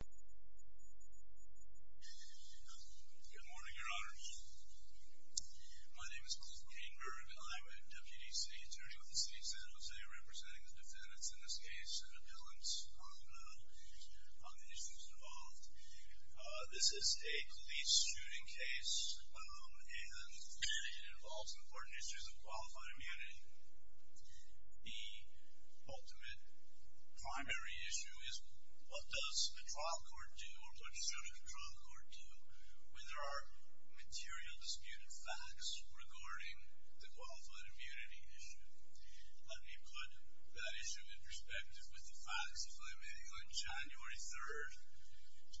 Good morning, Your Honor. My name is Malcolm Cainburg. I'm a Deputy City Attorney with the City of San Jose, representing the defendants in this case in an appellant on the issues involved. This is a police shooting case, and it involves important issues of qualified immunity. The ultimate primary issue is what does the trial court do, or what should a trial court do, when there are material disputed facts regarding the qualified immunity issue? Let me put that issue in perspective with the facts, if I may. On January 3rd,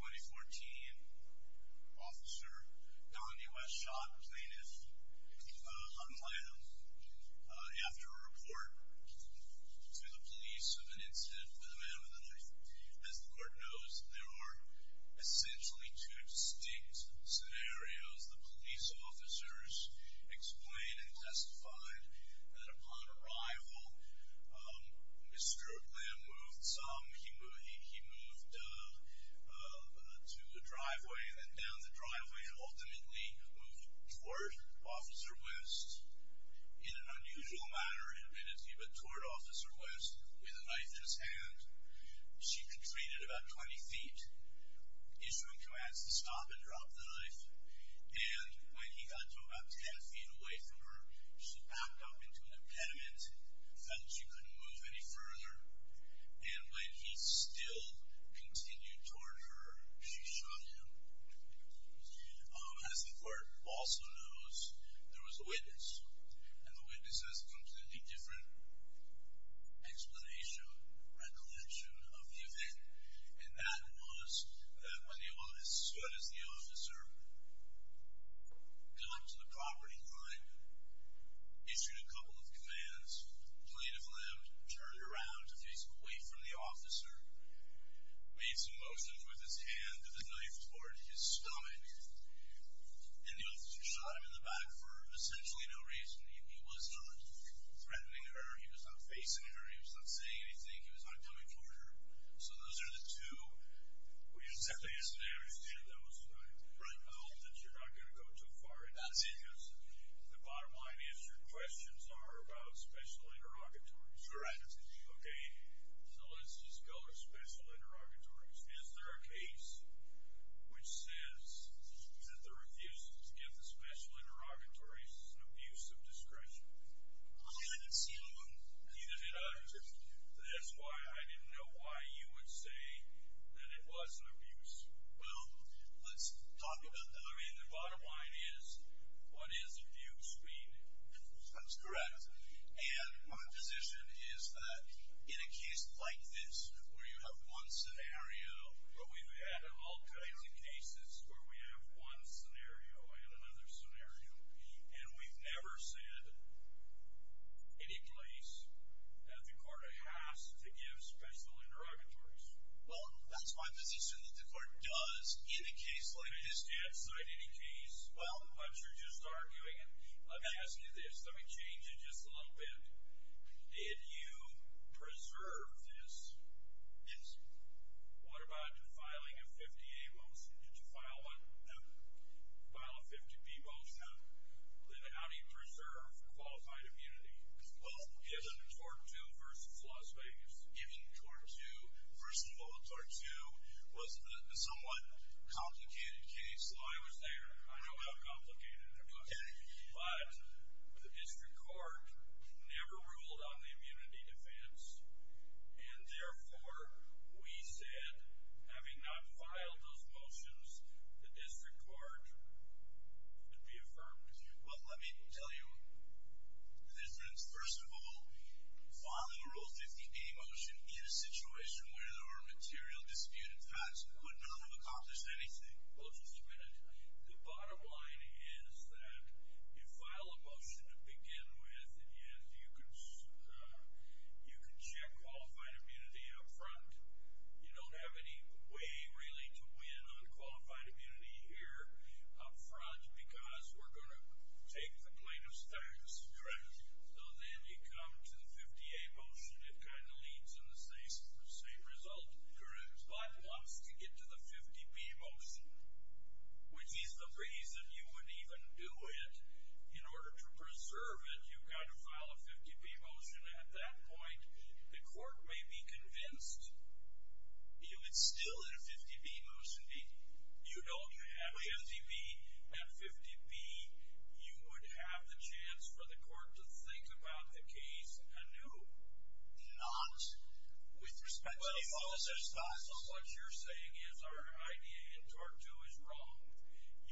2014, Officer Donny West shot plaintiff Hunt Latham after a report to the police of an incident with a man with a knife. As the court knows, there are essentially two distinct scenarios. The police officers explained and testified that upon arrival, Mr. Lam moved some. He moved to the driveway, and then down the driveway and ultimately moved toward Officer West in an unusual manner, admittedly, but toward Officer West with a knife in his hand. She retreated about 20 feet, issuing commands to stop and drop the knife, and when he got to about 10 feet away from her, she backed up into an impediment, felt that she couldn't move any further, and when he still continued toward her, she shot him. As the court also knows, there was a witness, and the witness has a completely different explanation, recollection of the event, and that was that when the officer got to the property line, issued a couple of commands, plaintiff Lam turned around to face away from the officer, made some motions with his hand and the knife toward his stomach, and the officer shot him in the back for essentially no reason. He was not threatening her. He was not facing her. He was not saying anything. He was not coming toward her. So those are the two. I hope that you're not going to go too far into this, because the bottom line is your questions are about special interrogatories. Okay, so let's just go to special interrogatories. Is there a case which says that the refusals give the special interrogatories an abuse of discretion? Neither did I. That's why I didn't know why you would say that it was an abuse. Well, let's talk about that. I mean, the bottom line is, what is abuse, we know. That's correct. And my position is that in a case like this, where you have one scenario, where we've had all kinds of cases where we have one scenario and another scenario, and we've never said any place that the court has to give special interrogatories. Well, that's my position that the court does, in a case like this. I didn't decide any case. Well. But you're just arguing it. Let me ask you this. Let me change it just a little bit. Did you preserve this? Yes. What about filing a 50A motion? Did you file one? No. File a 50B motion. No. Then how do you preserve qualified immunity? Well, given tort two versus Las Vegas. Given tort two. First of all, tort two was a somewhat complicated case. Well, I was there. I know how complicated it was. Okay. But the district court never ruled on the immunity defense. And therefore, we said, having not filed those motions, the district court would be affirmed. Well, let me tell you the difference. First of all, filing a Rule 50A motion in a situation where there were material disputed facts would not have accomplished anything. Well, just a minute. The bottom line is that you file a motion to begin with, and yes, you can check qualified immunity up front. You don't have any way, really, to win on qualified immunity here up front because we're going to take the plaintiff's facts. Correct. So then you come to the 50A motion. It kind of leads in the same result. Correct. But once you get to the 50B motion, which is the reason you wouldn't even do it, in order to preserve it, you've got to file a 50B motion at that point. The court may be convinced you would still, in a 50B motion, you don't have 50B. At 50B, you would have the chance for the court to think about the case anew. Not with respect to all of those facts. But if all of those facts are what you're saying is our idea in Tort 2 is wrong,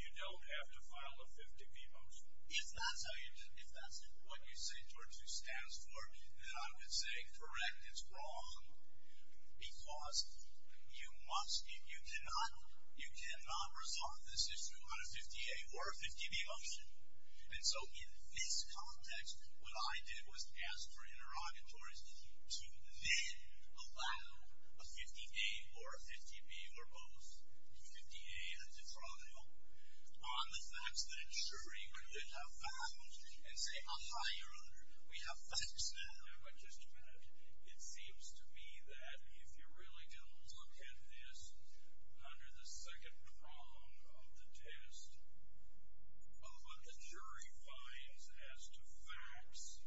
you don't have to file a 50B motion. If that's what you say Tort 2 stands for, then I would say, correct, it's wrong because you cannot resolve this issue on a 50A or a 50B motion. And so in this context, what I did was ask for interrogatories to then allow a 50A or a 50B or both, 50A as a trial, on the facts that it's sure you could have found and say, ah, you're under, we have facts now. But just a minute, it seems to me that if you really do look at this under the second prong of the test, of what the jury finds as to facts,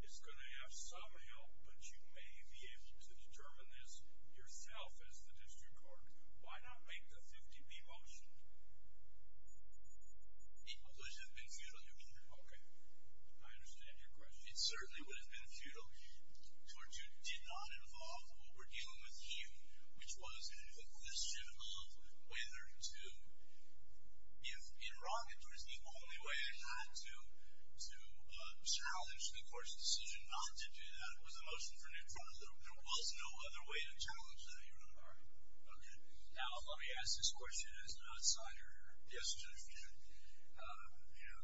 it's going to have some help, but you may be able to determine this yourself as the district court. Why not make the 50B motion? It would have been futile, Your Honor. Okay. I understand your question. It certainly would have been futile. Tort 2 did not involve what we're dealing with here, which was an inquisition of whether to, if being wrong in Tort is the only way not to challenge the court's decision not to do that, it was a motion for new trial, there was no other way to challenge that, Your Honor. All right. Okay. Now, let me ask this question as an outsider. Yes, Judge. You know,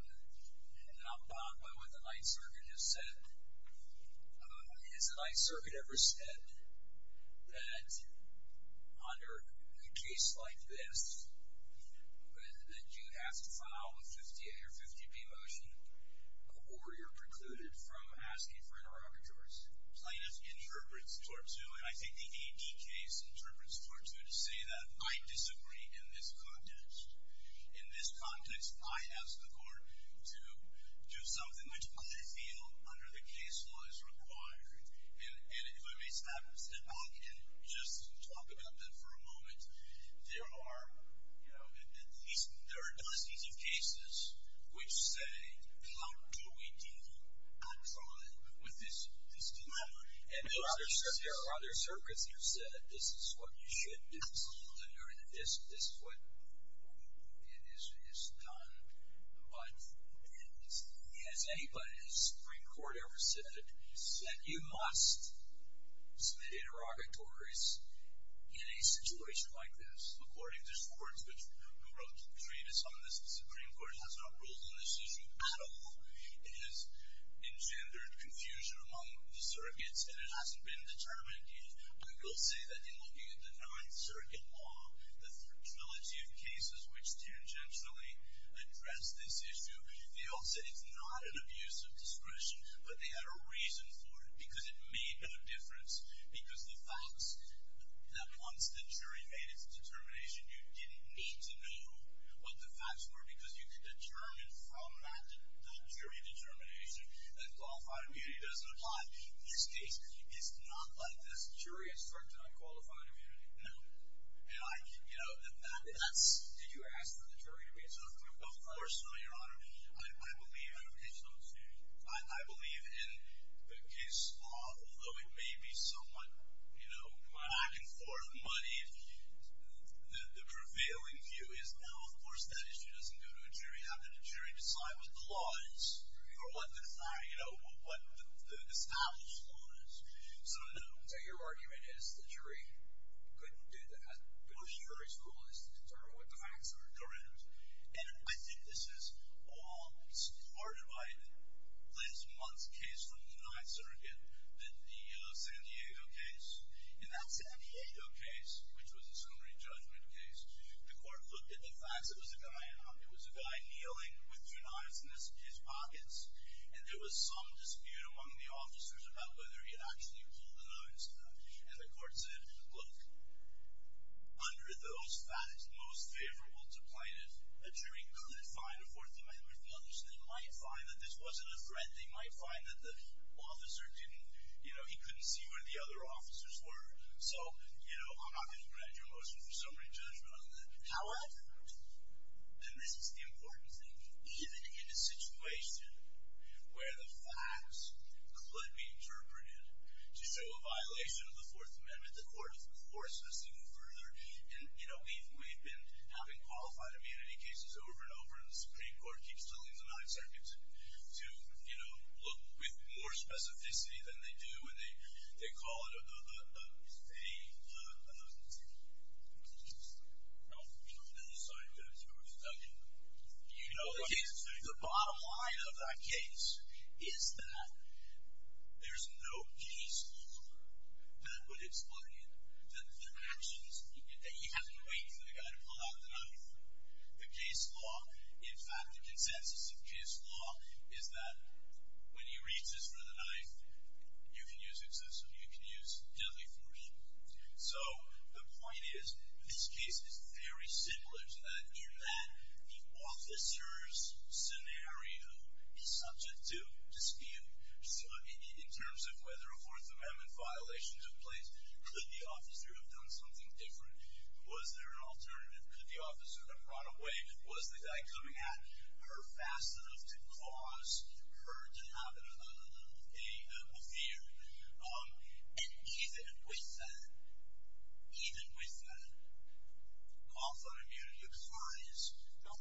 not bound by what the Ninth Circuit has said, has the Ninth Circuit ever said that under a case like this, that you have to file a 50A or 50B motion, or you're precluded from asking for interrogators? The Ninth Circuit's plaintiff interprets Tort 2, and I think the AD case interprets Tort 2 to say that I disagree in this context. In this context, I ask the court to do something which I feel under the case law is required. And if I may stop and step back and just talk about that for a moment, there are, you know, there are dozens of cases which say, how do we deal with this dilemma? And there are other circuits that have said, this is what you should do, this is what is done, but has anybody in the Supreme Court ever said that you must submit interrogatories in a situation like this? According to Schwartz, who wrote the treatise on this, the Supreme Court has not ruled on this issue at all. It has engendered confusion among the circuits, and it hasn't been determined yet. But I will say that in looking at the Ninth Circuit law, the fragility of cases which tangentially address this issue, they all said it's not an abuse of discretion, but they had a reason for it. Because it made no difference, because the facts that once the jury made its determination, you didn't need to know what the facts were, because you could determine from that jury determination that qualified immunity doesn't apply. In this case, it's not like this. Jury has started to unqualify immunity. No. And I, you know, and that's... Did you ask for the jury to reach out? Of course not, Your Honor. I believe in the case law, although it may be somewhat, you know, back and forth money, the prevailing view is now, of course, that issue doesn't go to a jury. It's up to the jury to decide what the law is, or what the established law is. So no. So your argument is the jury couldn't do that? Well, the jury's role is to determine what the facts are. Correct. And I think this is all supported by Liz Muntz's case from the Ninth Circuit, the San Diego case. In that San Diego case, which was a summary judgment case, the court looked at the facts. It was a guy, you know, it was a guy kneeling with two knives in his pockets, and there was some dispute among the officers about whether he had actually pulled the knives. And the court said, look, under those facts, most favorable to plaintiff, a jury couldn't find a fourth inmate with the others. They might find that this wasn't a threat. They might find that the officer didn't, you know, he couldn't see where the other officers were. So, you know, I'm not going to grant you a motion for summary judgment on that. However, and this is the important thing, even in a situation where the facts could be interpreted to show a violation of the Fourth Amendment, the court, of course, has to go further. And, you know, we've been having qualified immunity cases over and over, and the Supreme Court keeps telling the Ninth Circuit to, you know, look with more specificity than they do. They call it a – The bottom line of that case is that there's no case law that would explain that the actions – that you have to wait for the guy to pull out the knife. The case law – in fact, the consensus of case law is that when he reaches for the knife, you can use excessive, you can use deadly force. So the point is, this case is very similar to that in that the officer's scenario is subject to dispute. So in terms of whether a Fourth Amendment violation took place, could the officer have done something different? Was there an alternative? Could the officer have run away? Was the guy coming at her fast enough to cause her to have a fear? And even with – even with – also immunity applies.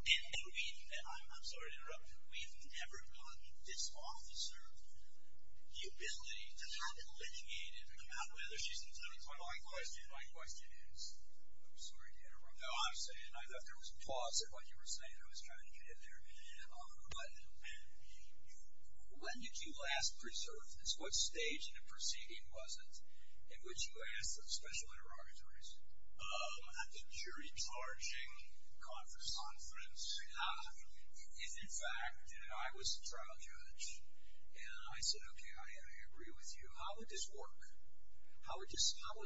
In a meeting that – I'm sorry to interrupt. We've never gotten this officer the ability to have it litigated on whether she's in trouble. My question is – I'm sorry to interrupt. No, I'm saying – I thought there was pause in what you were saying. I was trying to get it there. But when did you last preserve this? What stage in the proceeding was it in which you asked those special interrogatories? At the jury charging conference. Ah. And in fact, I was the trial judge. And I said, okay, I agree with you. How would this work? How would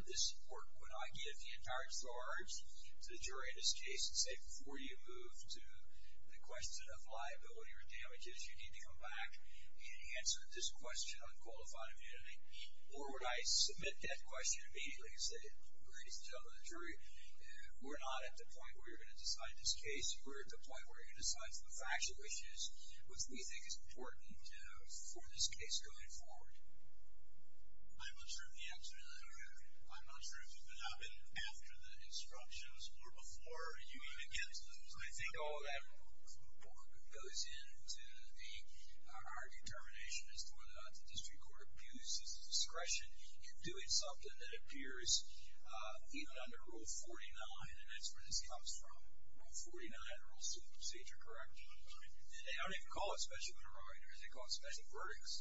this work? Would I give the entire charge to the jury in this case and say, before you move to the question of liability or damages, you need to come back and answer this question on qualified immunity? Or would I submit that question immediately and say, ladies and gentlemen of the jury, we're not at the point where you're going to decide this case. We're at the point where you're going to decide some factual issues, which we think is important for this case going forward. I'm not sure of the answer to that. I'm not sure if it could happen after the instructions or before you even get to those. I think all of that goes into our determination as to whether or not the district court abuses discretion in doing something that appears even under Rule 49. And that's where this comes from. Rule 49, the Rules of Procedure, correct? That's right. And they don't even call it special interrogators. They call it special verdicts.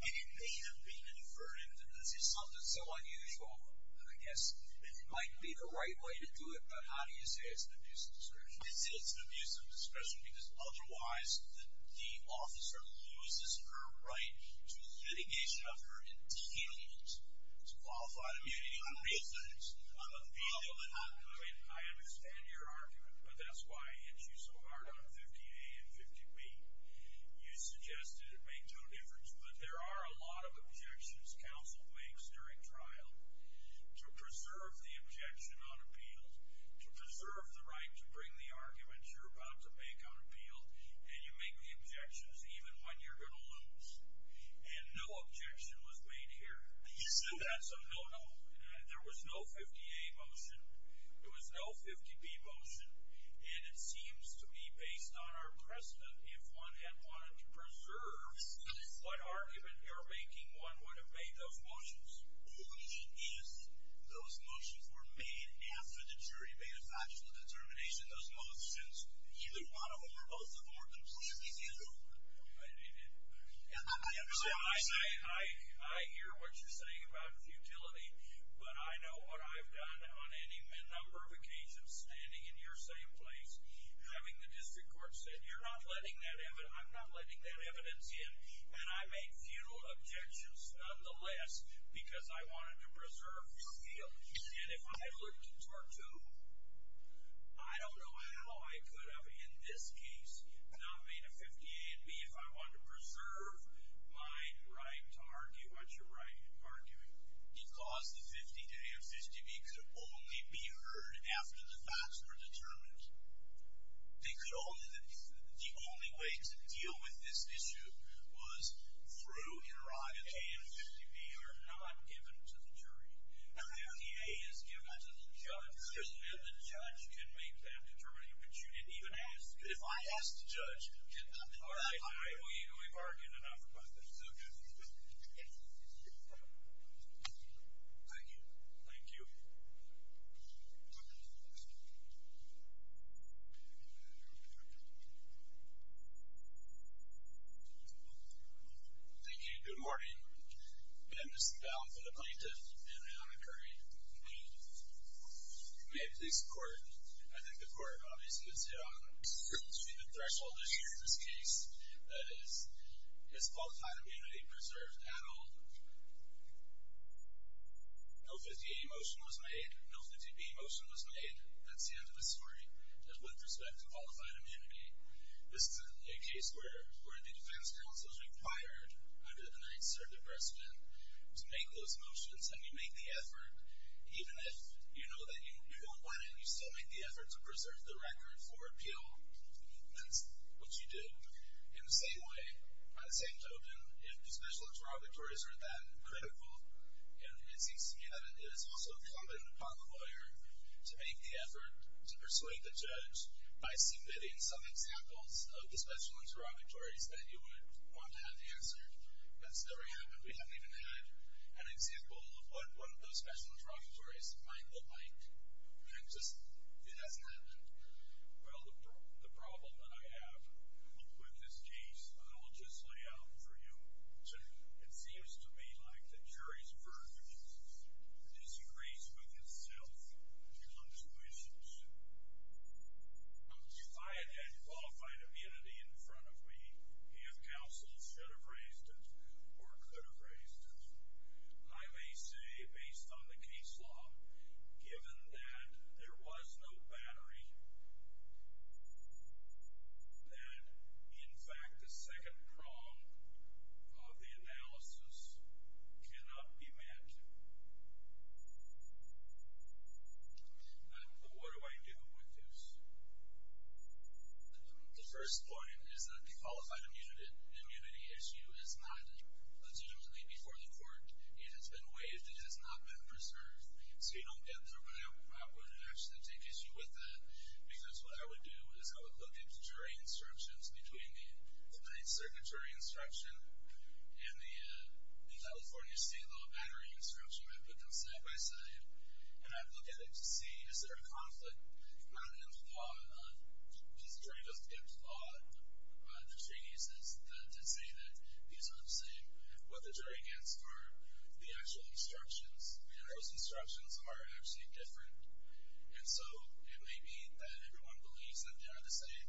And it may have been a verdict. And this is something so unusual, I guess, that it might be the right way to do it. But how do you say it's an abuse of discretion? I say it's an abuse of discretion because otherwise the officer loses her right to litigation of her indeed. It's qualified immunity on real terms. I understand your argument, but that's why I hit you so hard on 15A and 15B. You suggested it made no difference, but there are a lot of objections counsel makes during trial to preserve the objection on appeal, to preserve the right to bring the argument you're about to make on appeal, and you make the objections even when you're going to lose. And no objection was made here. You said that? No, no. There was no 15A motion. There was no 15B motion. And it seems to me, based on our precedent, if one had wanted to preserve what argument you're making, one would have made those motions. Only if those motions were made after the jury made its actual determination. Those motions, either one of them or both of them, are completely different. I understand what you're saying. I hear what you're saying about futility, but I know what I've done on any number of occasions standing in your same place, having the district court say, you're not letting that evidence, I'm not letting that evidence in, and I made few objections nonetheless because I wanted to preserve appeal. And if I looked into our two, I don't know how I could have, in this case, not made a 15A and B if I wanted to preserve my right to argue what you're arguing. Because the 15A and 15B could only be heard after the facts were determined. The only way to deal with this issue was through interrogation. The 15A and 15B are not given to the jury. The 15A is given to the judge, and the judge can make that determination. But you didn't even ask. But if I asked the judge, can I argue? Can we bargain enough about this? Okay. Thank you. Thank you. Thank you. Good morning. And this is a bill for the plaintiff, Anna Curry. May it please the court. I think the court obviously has hit on the threshold issue in this case. That is, is qualified immunity preserved at all? No 15A motion was made. No 15B motion was made. That's the end of the story with respect to qualified immunity. This is a case where the defense counsel is required under the Ninth Circuit precedent to make those motions, and you make the effort, even if you know that you won't win it, you still make the effort to preserve the record for appeal. That's what you did. In the same way, by the same token, if the special interrogatories are that critical, it seems to me that it is also incumbent upon the lawyer to make the effort to persuade the judge by submitting some examples of the special interrogatories that you would want to have answered. That's never happened. We haven't even had an example of what one of those special interrogatories might look like. It just hasn't happened. Well, the problem that I have with this case, I will just lay out for you. It seems to me like the jury's verdict disagrees with itself on two issues. If I had had qualified immunity in front of me, the counsel should have raised it or could have raised it. I may say, based on the case law, given that there was no battery, that in fact the second prong of the analysis cannot be met. What do I do with this? The first point is that the qualified immunity issue is not legitimately before the court. It has been waived. It has not been preserved. So you don't get there. But I would actually take issue with that because what I would do is I would look at the jury instructions between the Ninth Circuit jury instruction and the California state law battery instruction. I would put them side by side. And I would look at it to see is there a conflict not in the law, because the jury doesn't give the law the treaties to say that these are the same. What the jury gets are the actual instructions, and those instructions are actually different. And so it may be that everyone believes that they are the same,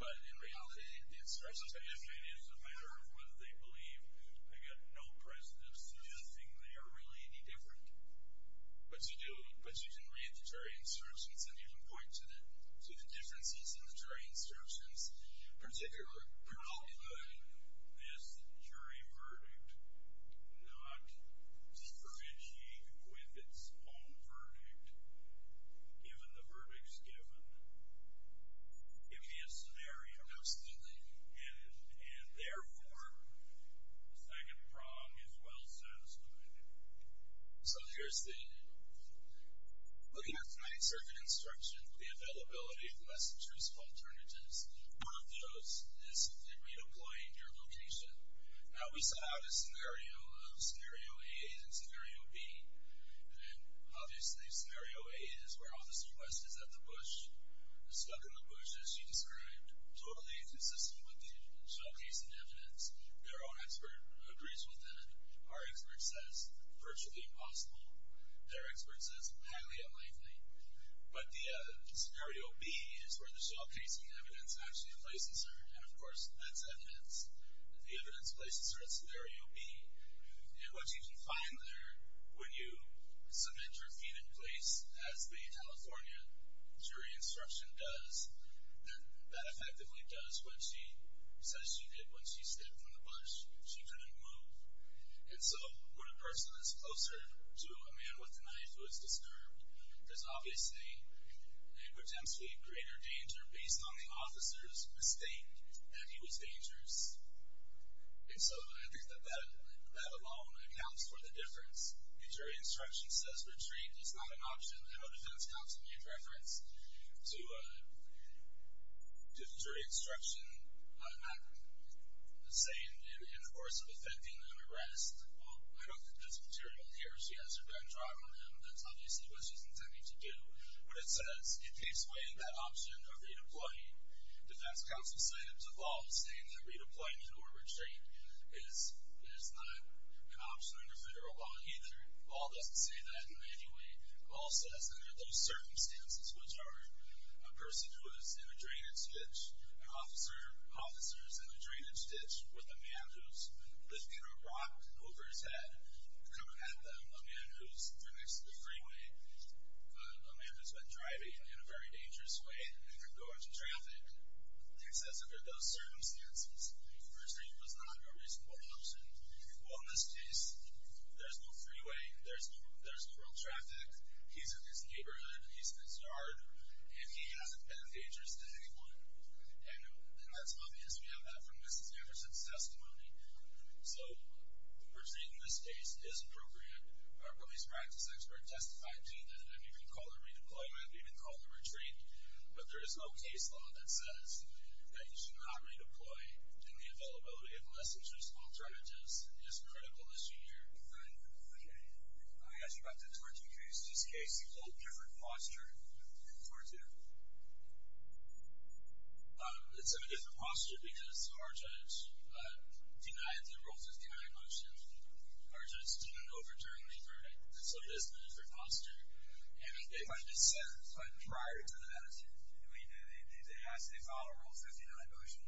but in reality the instructions are different. So if it is a matter of whether they believe I get no presidents to do the thing, they are really indifferent. But you can read the jury instructions and you can point to the differences in the jury instructions, How could this jury verdict not differentiate with its own verdict, given the verdicts given? It would be a scenario. Absolutely. And therefore, the second prong is well satisfied. So here's the looking at the Ninth Circuit instruction, and the availability of less intrusive alternatives. One of those is redeploying your location. Now we saw the scenario of Scenario A and Scenario B, and obviously Scenario A is where Officer West is at the bush, stuck in the bush as she described, totally inconsistent with the showcasing evidence. Their own expert agrees with that. Our expert says virtually impossible. Their expert says highly unlikely. But the Scenario B is where the showcasing evidence actually places her, and of course that's evidence. The evidence places her at Scenario B. And what you can find there, when you submit your feet in place as the California jury instruction does, that that effectively does what she says she did when she stepped from the bush. She couldn't move. And so when a person is closer to a man with a knife who is disturbed, there's obviously a potentially greater danger based on the officer's mistake that he was dangerous. And so I think that that alone accounts for the difference. The jury instruction says retreat is not an option. I know defense counsel made reference to the jury instruction macro. Let's say in the course of effecting an arrest, well, I don't think that's material here. She has her gun drawn on him. That's obviously what she's intending to do. But it says it takes away that option of redeploying. Defense counsel cited the law saying that redeployment or retreat is not an option under federal law either. The law doesn't say that in any way. The law says under those circumstances, which are a person who is in a drainage ditch, an officer's in a drainage ditch with a man who's lifting a rock over his head, coming at them, a man who's next to the freeway, a man who's been driving in a very dangerous way and going to traffic. It says under those circumstances, retreat was not a reasonable option. Well, in this case, there's no freeway. There's no real traffic. He's in his neighborhood. He's in his yard. And he hasn't been dangerous to anyone. And that's obvious. We have that from Mrs. Jefferson's testimony. So we're saying in this case it is appropriate. Our police practice expert testified to that. I didn't even call the redeployment. I didn't even call the retreat. But there is no case law that says that you should not redeploy, and the availability of less dangerous alternatives is critical this year. All right. Okay. I asked you about the Tortu case. This case is a little different posture than Tortu. It's a different posture because our judge denied the Rule 59 motion. Our judge didn't overturn the verdict. So it is a different posture. And it might have been set prior to that. I mean, they asked, they filed a Rule 59 motion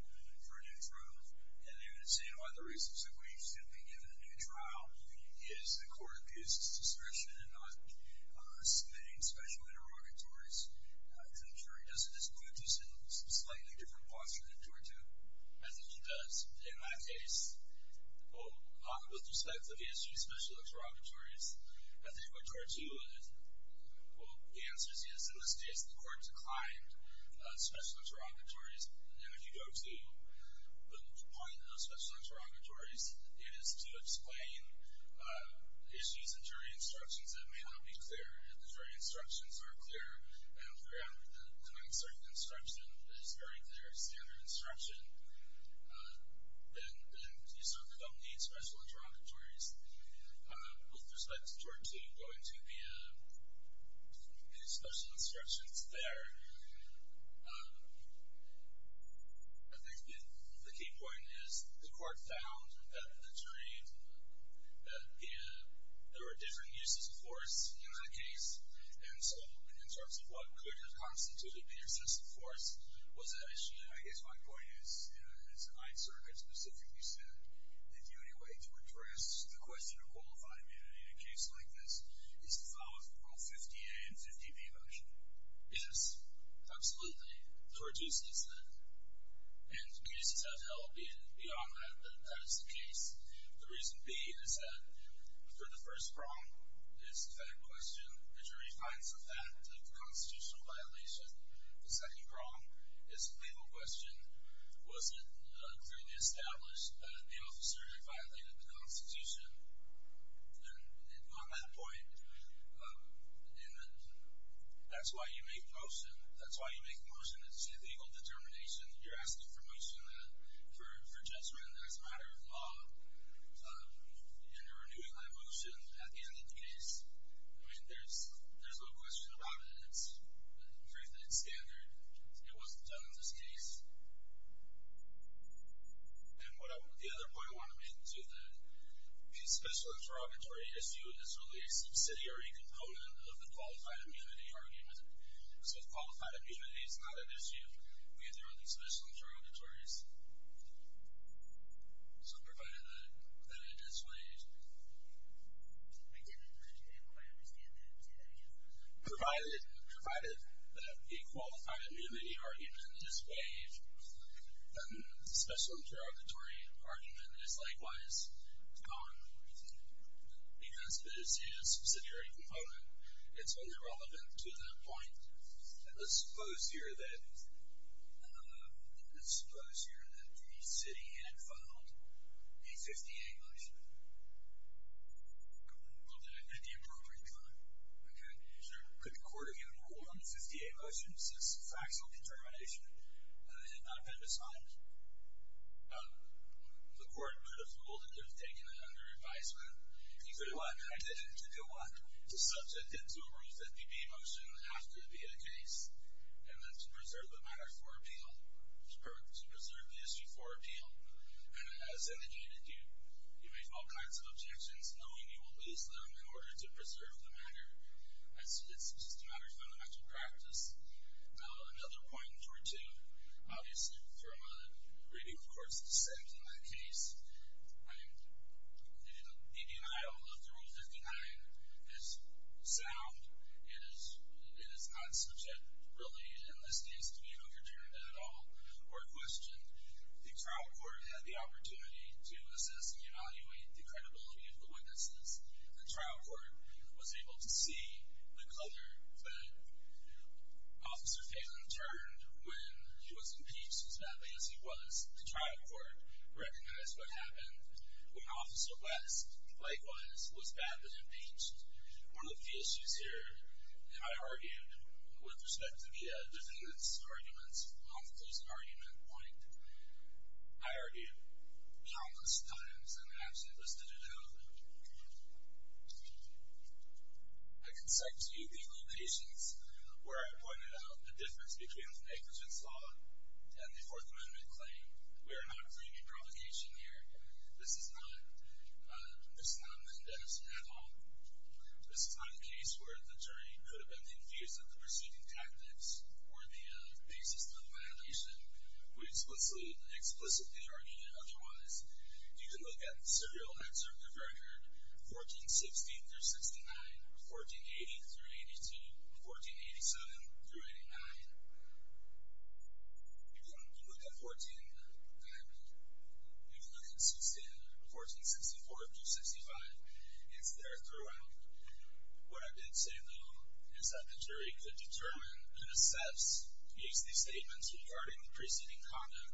for a new trial. And they were saying, well, the reasons that we should be given a new trial is the court abused discretion in not submitting special interrogatories. Does this put us in a slightly different posture than Tortu? I think it does. In my case, with respect to the issue of special interrogatories, I think what Tortu answers is, in this case, the court declined special interrogatories. And if you go to the point of special interrogatories, it is to explain issues in jury instructions that may not be clear. If the jury instructions are clear, and the ground for an uncertain instruction is very clear standard instruction, then you certainly don't need special interrogatories. With respect to Tortu, going to the special instructions there, I think the key point is the court found that the jury, that there were different uses of force in that case. And so, in terms of what could have constituted the excessive force, was that issue. I guess my point is, as I specifically said, that the only way to address the question of qualified immunity in a case like this is to file a Rule 58 and 50B motion. Yes, absolutely. Tortu says that. And cases have held beyond that, that is the case. The reason being is that, for the first prong, it's the fact question. The jury finds the fact of the constitutional violation. The second prong is the legal question. Was it clearly established that the officer had violated the Constitution? And on that point, that's why you make a motion. That's why you make a motion. It's a legal determination. You're asking for motion for judgment as a matter of law. And you're renewing that motion at the end of the case. I mean, there's no question about it. It's the truth that it's standard. It wasn't done in this case. And the other point I want to make to the special interrogatory issue is really a subsidiary component of the qualified immunity argument. So, qualified immunity is not an issue. We have the early special interrogatories. So, provided that it is waived. I didn't quite understand that. Say that again. Provided that the qualified immunity argument is waived, the special interrogatory argument is likewise gone. Because it is a subsidiary component, it's only relevant to that point. Let's suppose here that the city had filed a 50-A motion. Well, did it at the appropriate time? Okay. Could the court have given a rule on the 50-A motion since factual determination had not been decided? The court could have ruled that it was taken under advisement. You could have what? I didn't. You could have what? To subject it to a Rule 50-B motion after it had been a case and then to preserve the matter for appeal, or to preserve the issue for appeal. And as indicated, you make all kinds of objections, knowing you will lose them in order to preserve the matter. It's just a matter of fundamental practice. Now, another point in Part 2, obviously from a reading of court's dissent in that case, the denial of the Rule 59 is sound. It is not subject, really, and this needs to be overturned at all or questioned. The trial court had the opportunity to assess and evaluate the credibility of the witnesses. The trial court was able to see the color that Officer Phelan turned when he was impeached as badly as he was. The trial court recognized what happened when Officer West, likewise, was badly impeached. One of the issues here, and I argued with respect to the defendants' arguments on the closing argument point, I argued countless times and actually listed it out. I can cite to you the locations where I pointed out the difference between the negligence law and the Fourth Amendment claim. We are not bringing provocation here. This is not Mendes at all. This is not a case where the jury could have been infused with the pursuiting tactics or the basis for the violation. We explicitly argued otherwise. You can look at the serial excerpt of your record, 1460-69, 1480-82, 1487-89. You can look at 1464-65. It's there throughout. What I did say, though, is that the jury could determine and assess these statements regarding the preceding conduct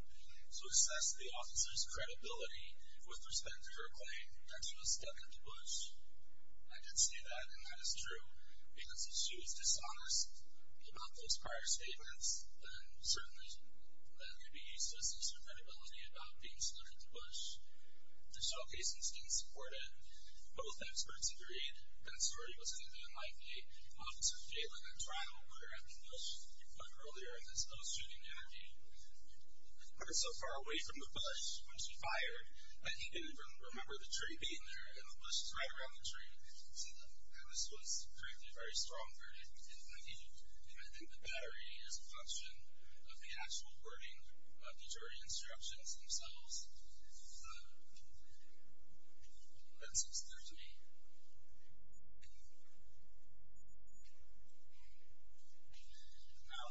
to assess the officer's credibility with respect to her claim that she was stuck at the bush. I did say that, and that is true. Because if she was dishonest about those prior statements, then certainly that could be used to assess her credibility about being stuck at the bush. The showcasing students supported it. Both experts agreed that Sorey was thinking like an officer failing a trial where at the bush he put earlier his low shooting energy. He was so far away from the bush when she fired that he didn't even remember the tree being there, and the bush was right around the tree. So this was, frankly, a very strong verdict. And I think the battery is a function of the actual wording of the jury instructions themselves. That's what's there to me. Now,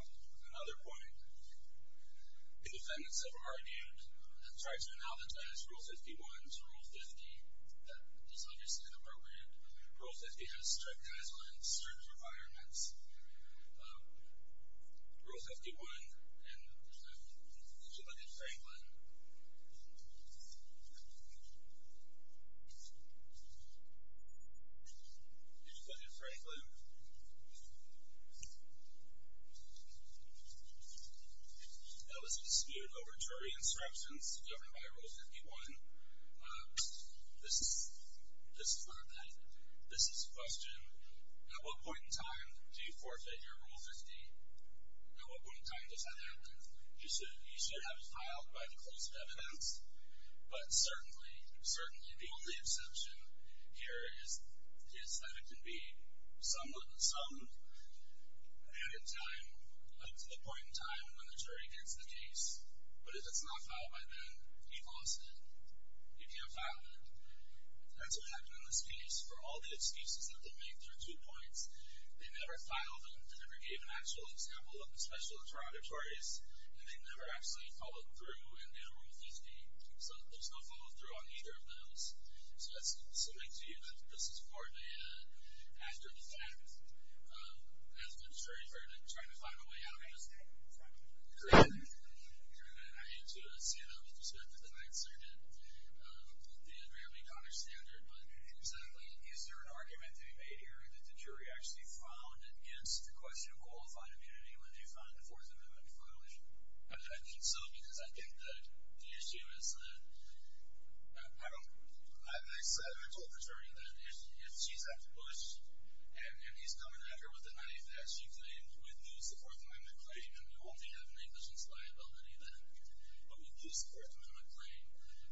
another point. The defendants have argued and tried to analogize Rule 51 to Rule 50. That is obviously inappropriate. Rule 50 has strict guidelines, strict requirements. Rule 51, and did you look at Franklin? Did you look at Franklin? That was disputed over jury instructions governed by Rule 51. This is not that. This is a question. At what point in time do you forfeit your Rule 50? At what point in time does that happen? You should have it filed by the closest evidence, but certainly the only exception here is that it can be somewhat summed at a point in time when the jury gets the case. But if it's not filed by then, you've lost it. You can't file it. That's what happened in this case. For all the excuses that they made, there are two points. They never filed them. They never gave an actual example of the special interrogatories, and they never actually followed through and did a Rule 50. So there's no follow-through on either of those. So that's something to you. This is more data after the fact as the jury verdict, trying to find a way out. I hate to say that with respect to the Ninth Circuit, they had rarely gone to standard. But is there an argument to be made here that the jury actually found, against the question of qualifying immunity, when they found the Fourth Amendment violation? I think so, because I think the issue is that I told the attorney that if she's after Bush and he's coming at her with a knife that she claimed would lose the Fourth Amendment claim, and you only have negligence liability then, then you would lose the Fourth Amendment claim.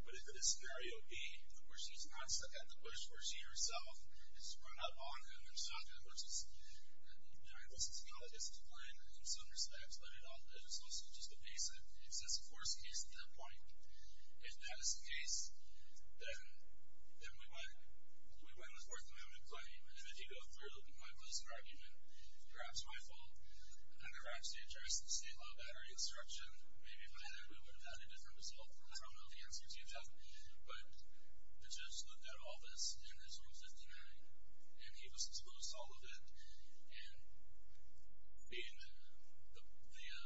But if it is scenario B, where she's not stuck at the Bush, where she herself has run up on him, there's not going to be negligence. I think this is how it gets explained in some respects, but it's also just a basic excessive force case at that point. If that is the case, then we win. We win the Fourth Amendment claim. And if you go through with my basic argument, it's perhaps my fault, and perhaps they addressed the state law battery disruption, and maybe by then we would have had a different result. I don't know the answer to that. But the judge looked at all this in his Rule 59, and he disclosed all of it, and being the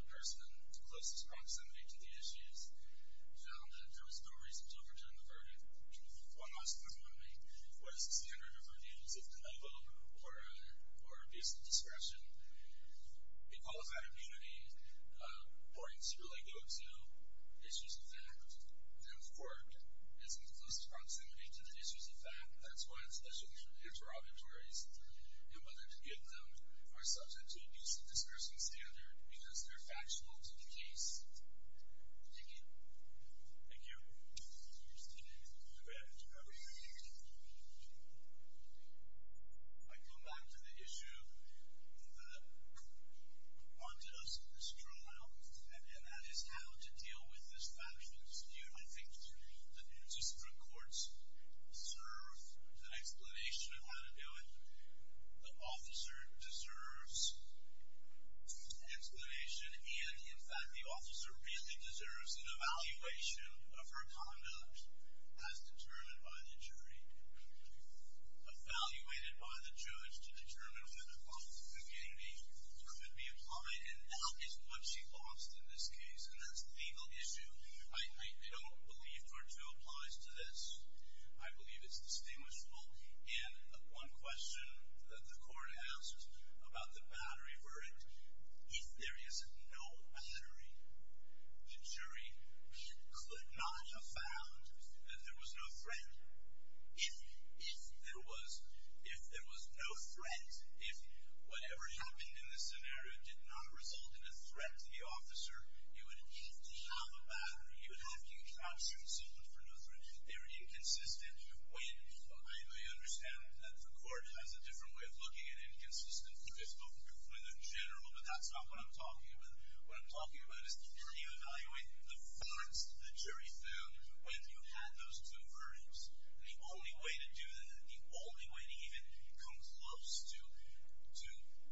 person closest in proximity to the issues, found that there was no reason to overturn the verdict. One last point I want to make. What is the standard of review? Is it de novo or abuse of discretion? Equalified immunity points really go to issues of fact. There's work that's in the closest proximity to the issues of fact. That's why, especially for interrogatories, and whether to get them are subject to abuse of discretion standard because they're factual to the case. Thank you. Thank you. Okay. I come back to the issue that haunted us in this trial, and that is how to deal with this factual dispute. I think the district courts deserve an explanation of how to do it. The officer deserves an explanation, and, in fact, the officer really deserves an evaluation of her conduct as determined by the jury. Evaluated by the judge to determine whether or not the immunity could be applied, and that is what she lost in this case, and that's the legal issue. I don't believe Part 2 applies to this. I believe it's distinguishable, and one question that the court asked about the battery were if there is no battery, the jury could not have found that there was no threat. If there was no threat, if whatever happened in this scenario did not result in a threat to the officer, you would have to have a battery. You would have to out-suit someone for no threat. They were inconsistent. I understand that the court has a different way of looking at inconsistent. I've spoken for the general, but that's not what I'm talking about. What I'm talking about is how do you evaluate the verdicts the jury found when you had those two verdicts, and the only way to do that, the only way to even come close to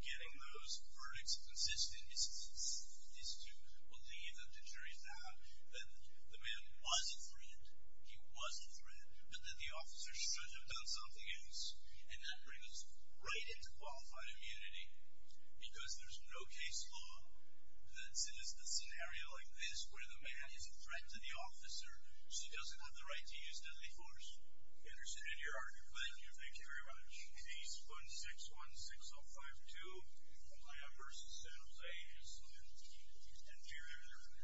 getting those verdicts consistent is to believe that the jury found that the man was a threat, he was a threat, but that the officer should have done something else, and that brings us right into qualified immunity because there's no case law that says in a scenario like this where the man is a threat to the officer, she doesn't have the right to use deadly force. I understand your argument. Thank you. Thank you very much. Case 1616052, Lamb v. Saddles A, is the inferior jury.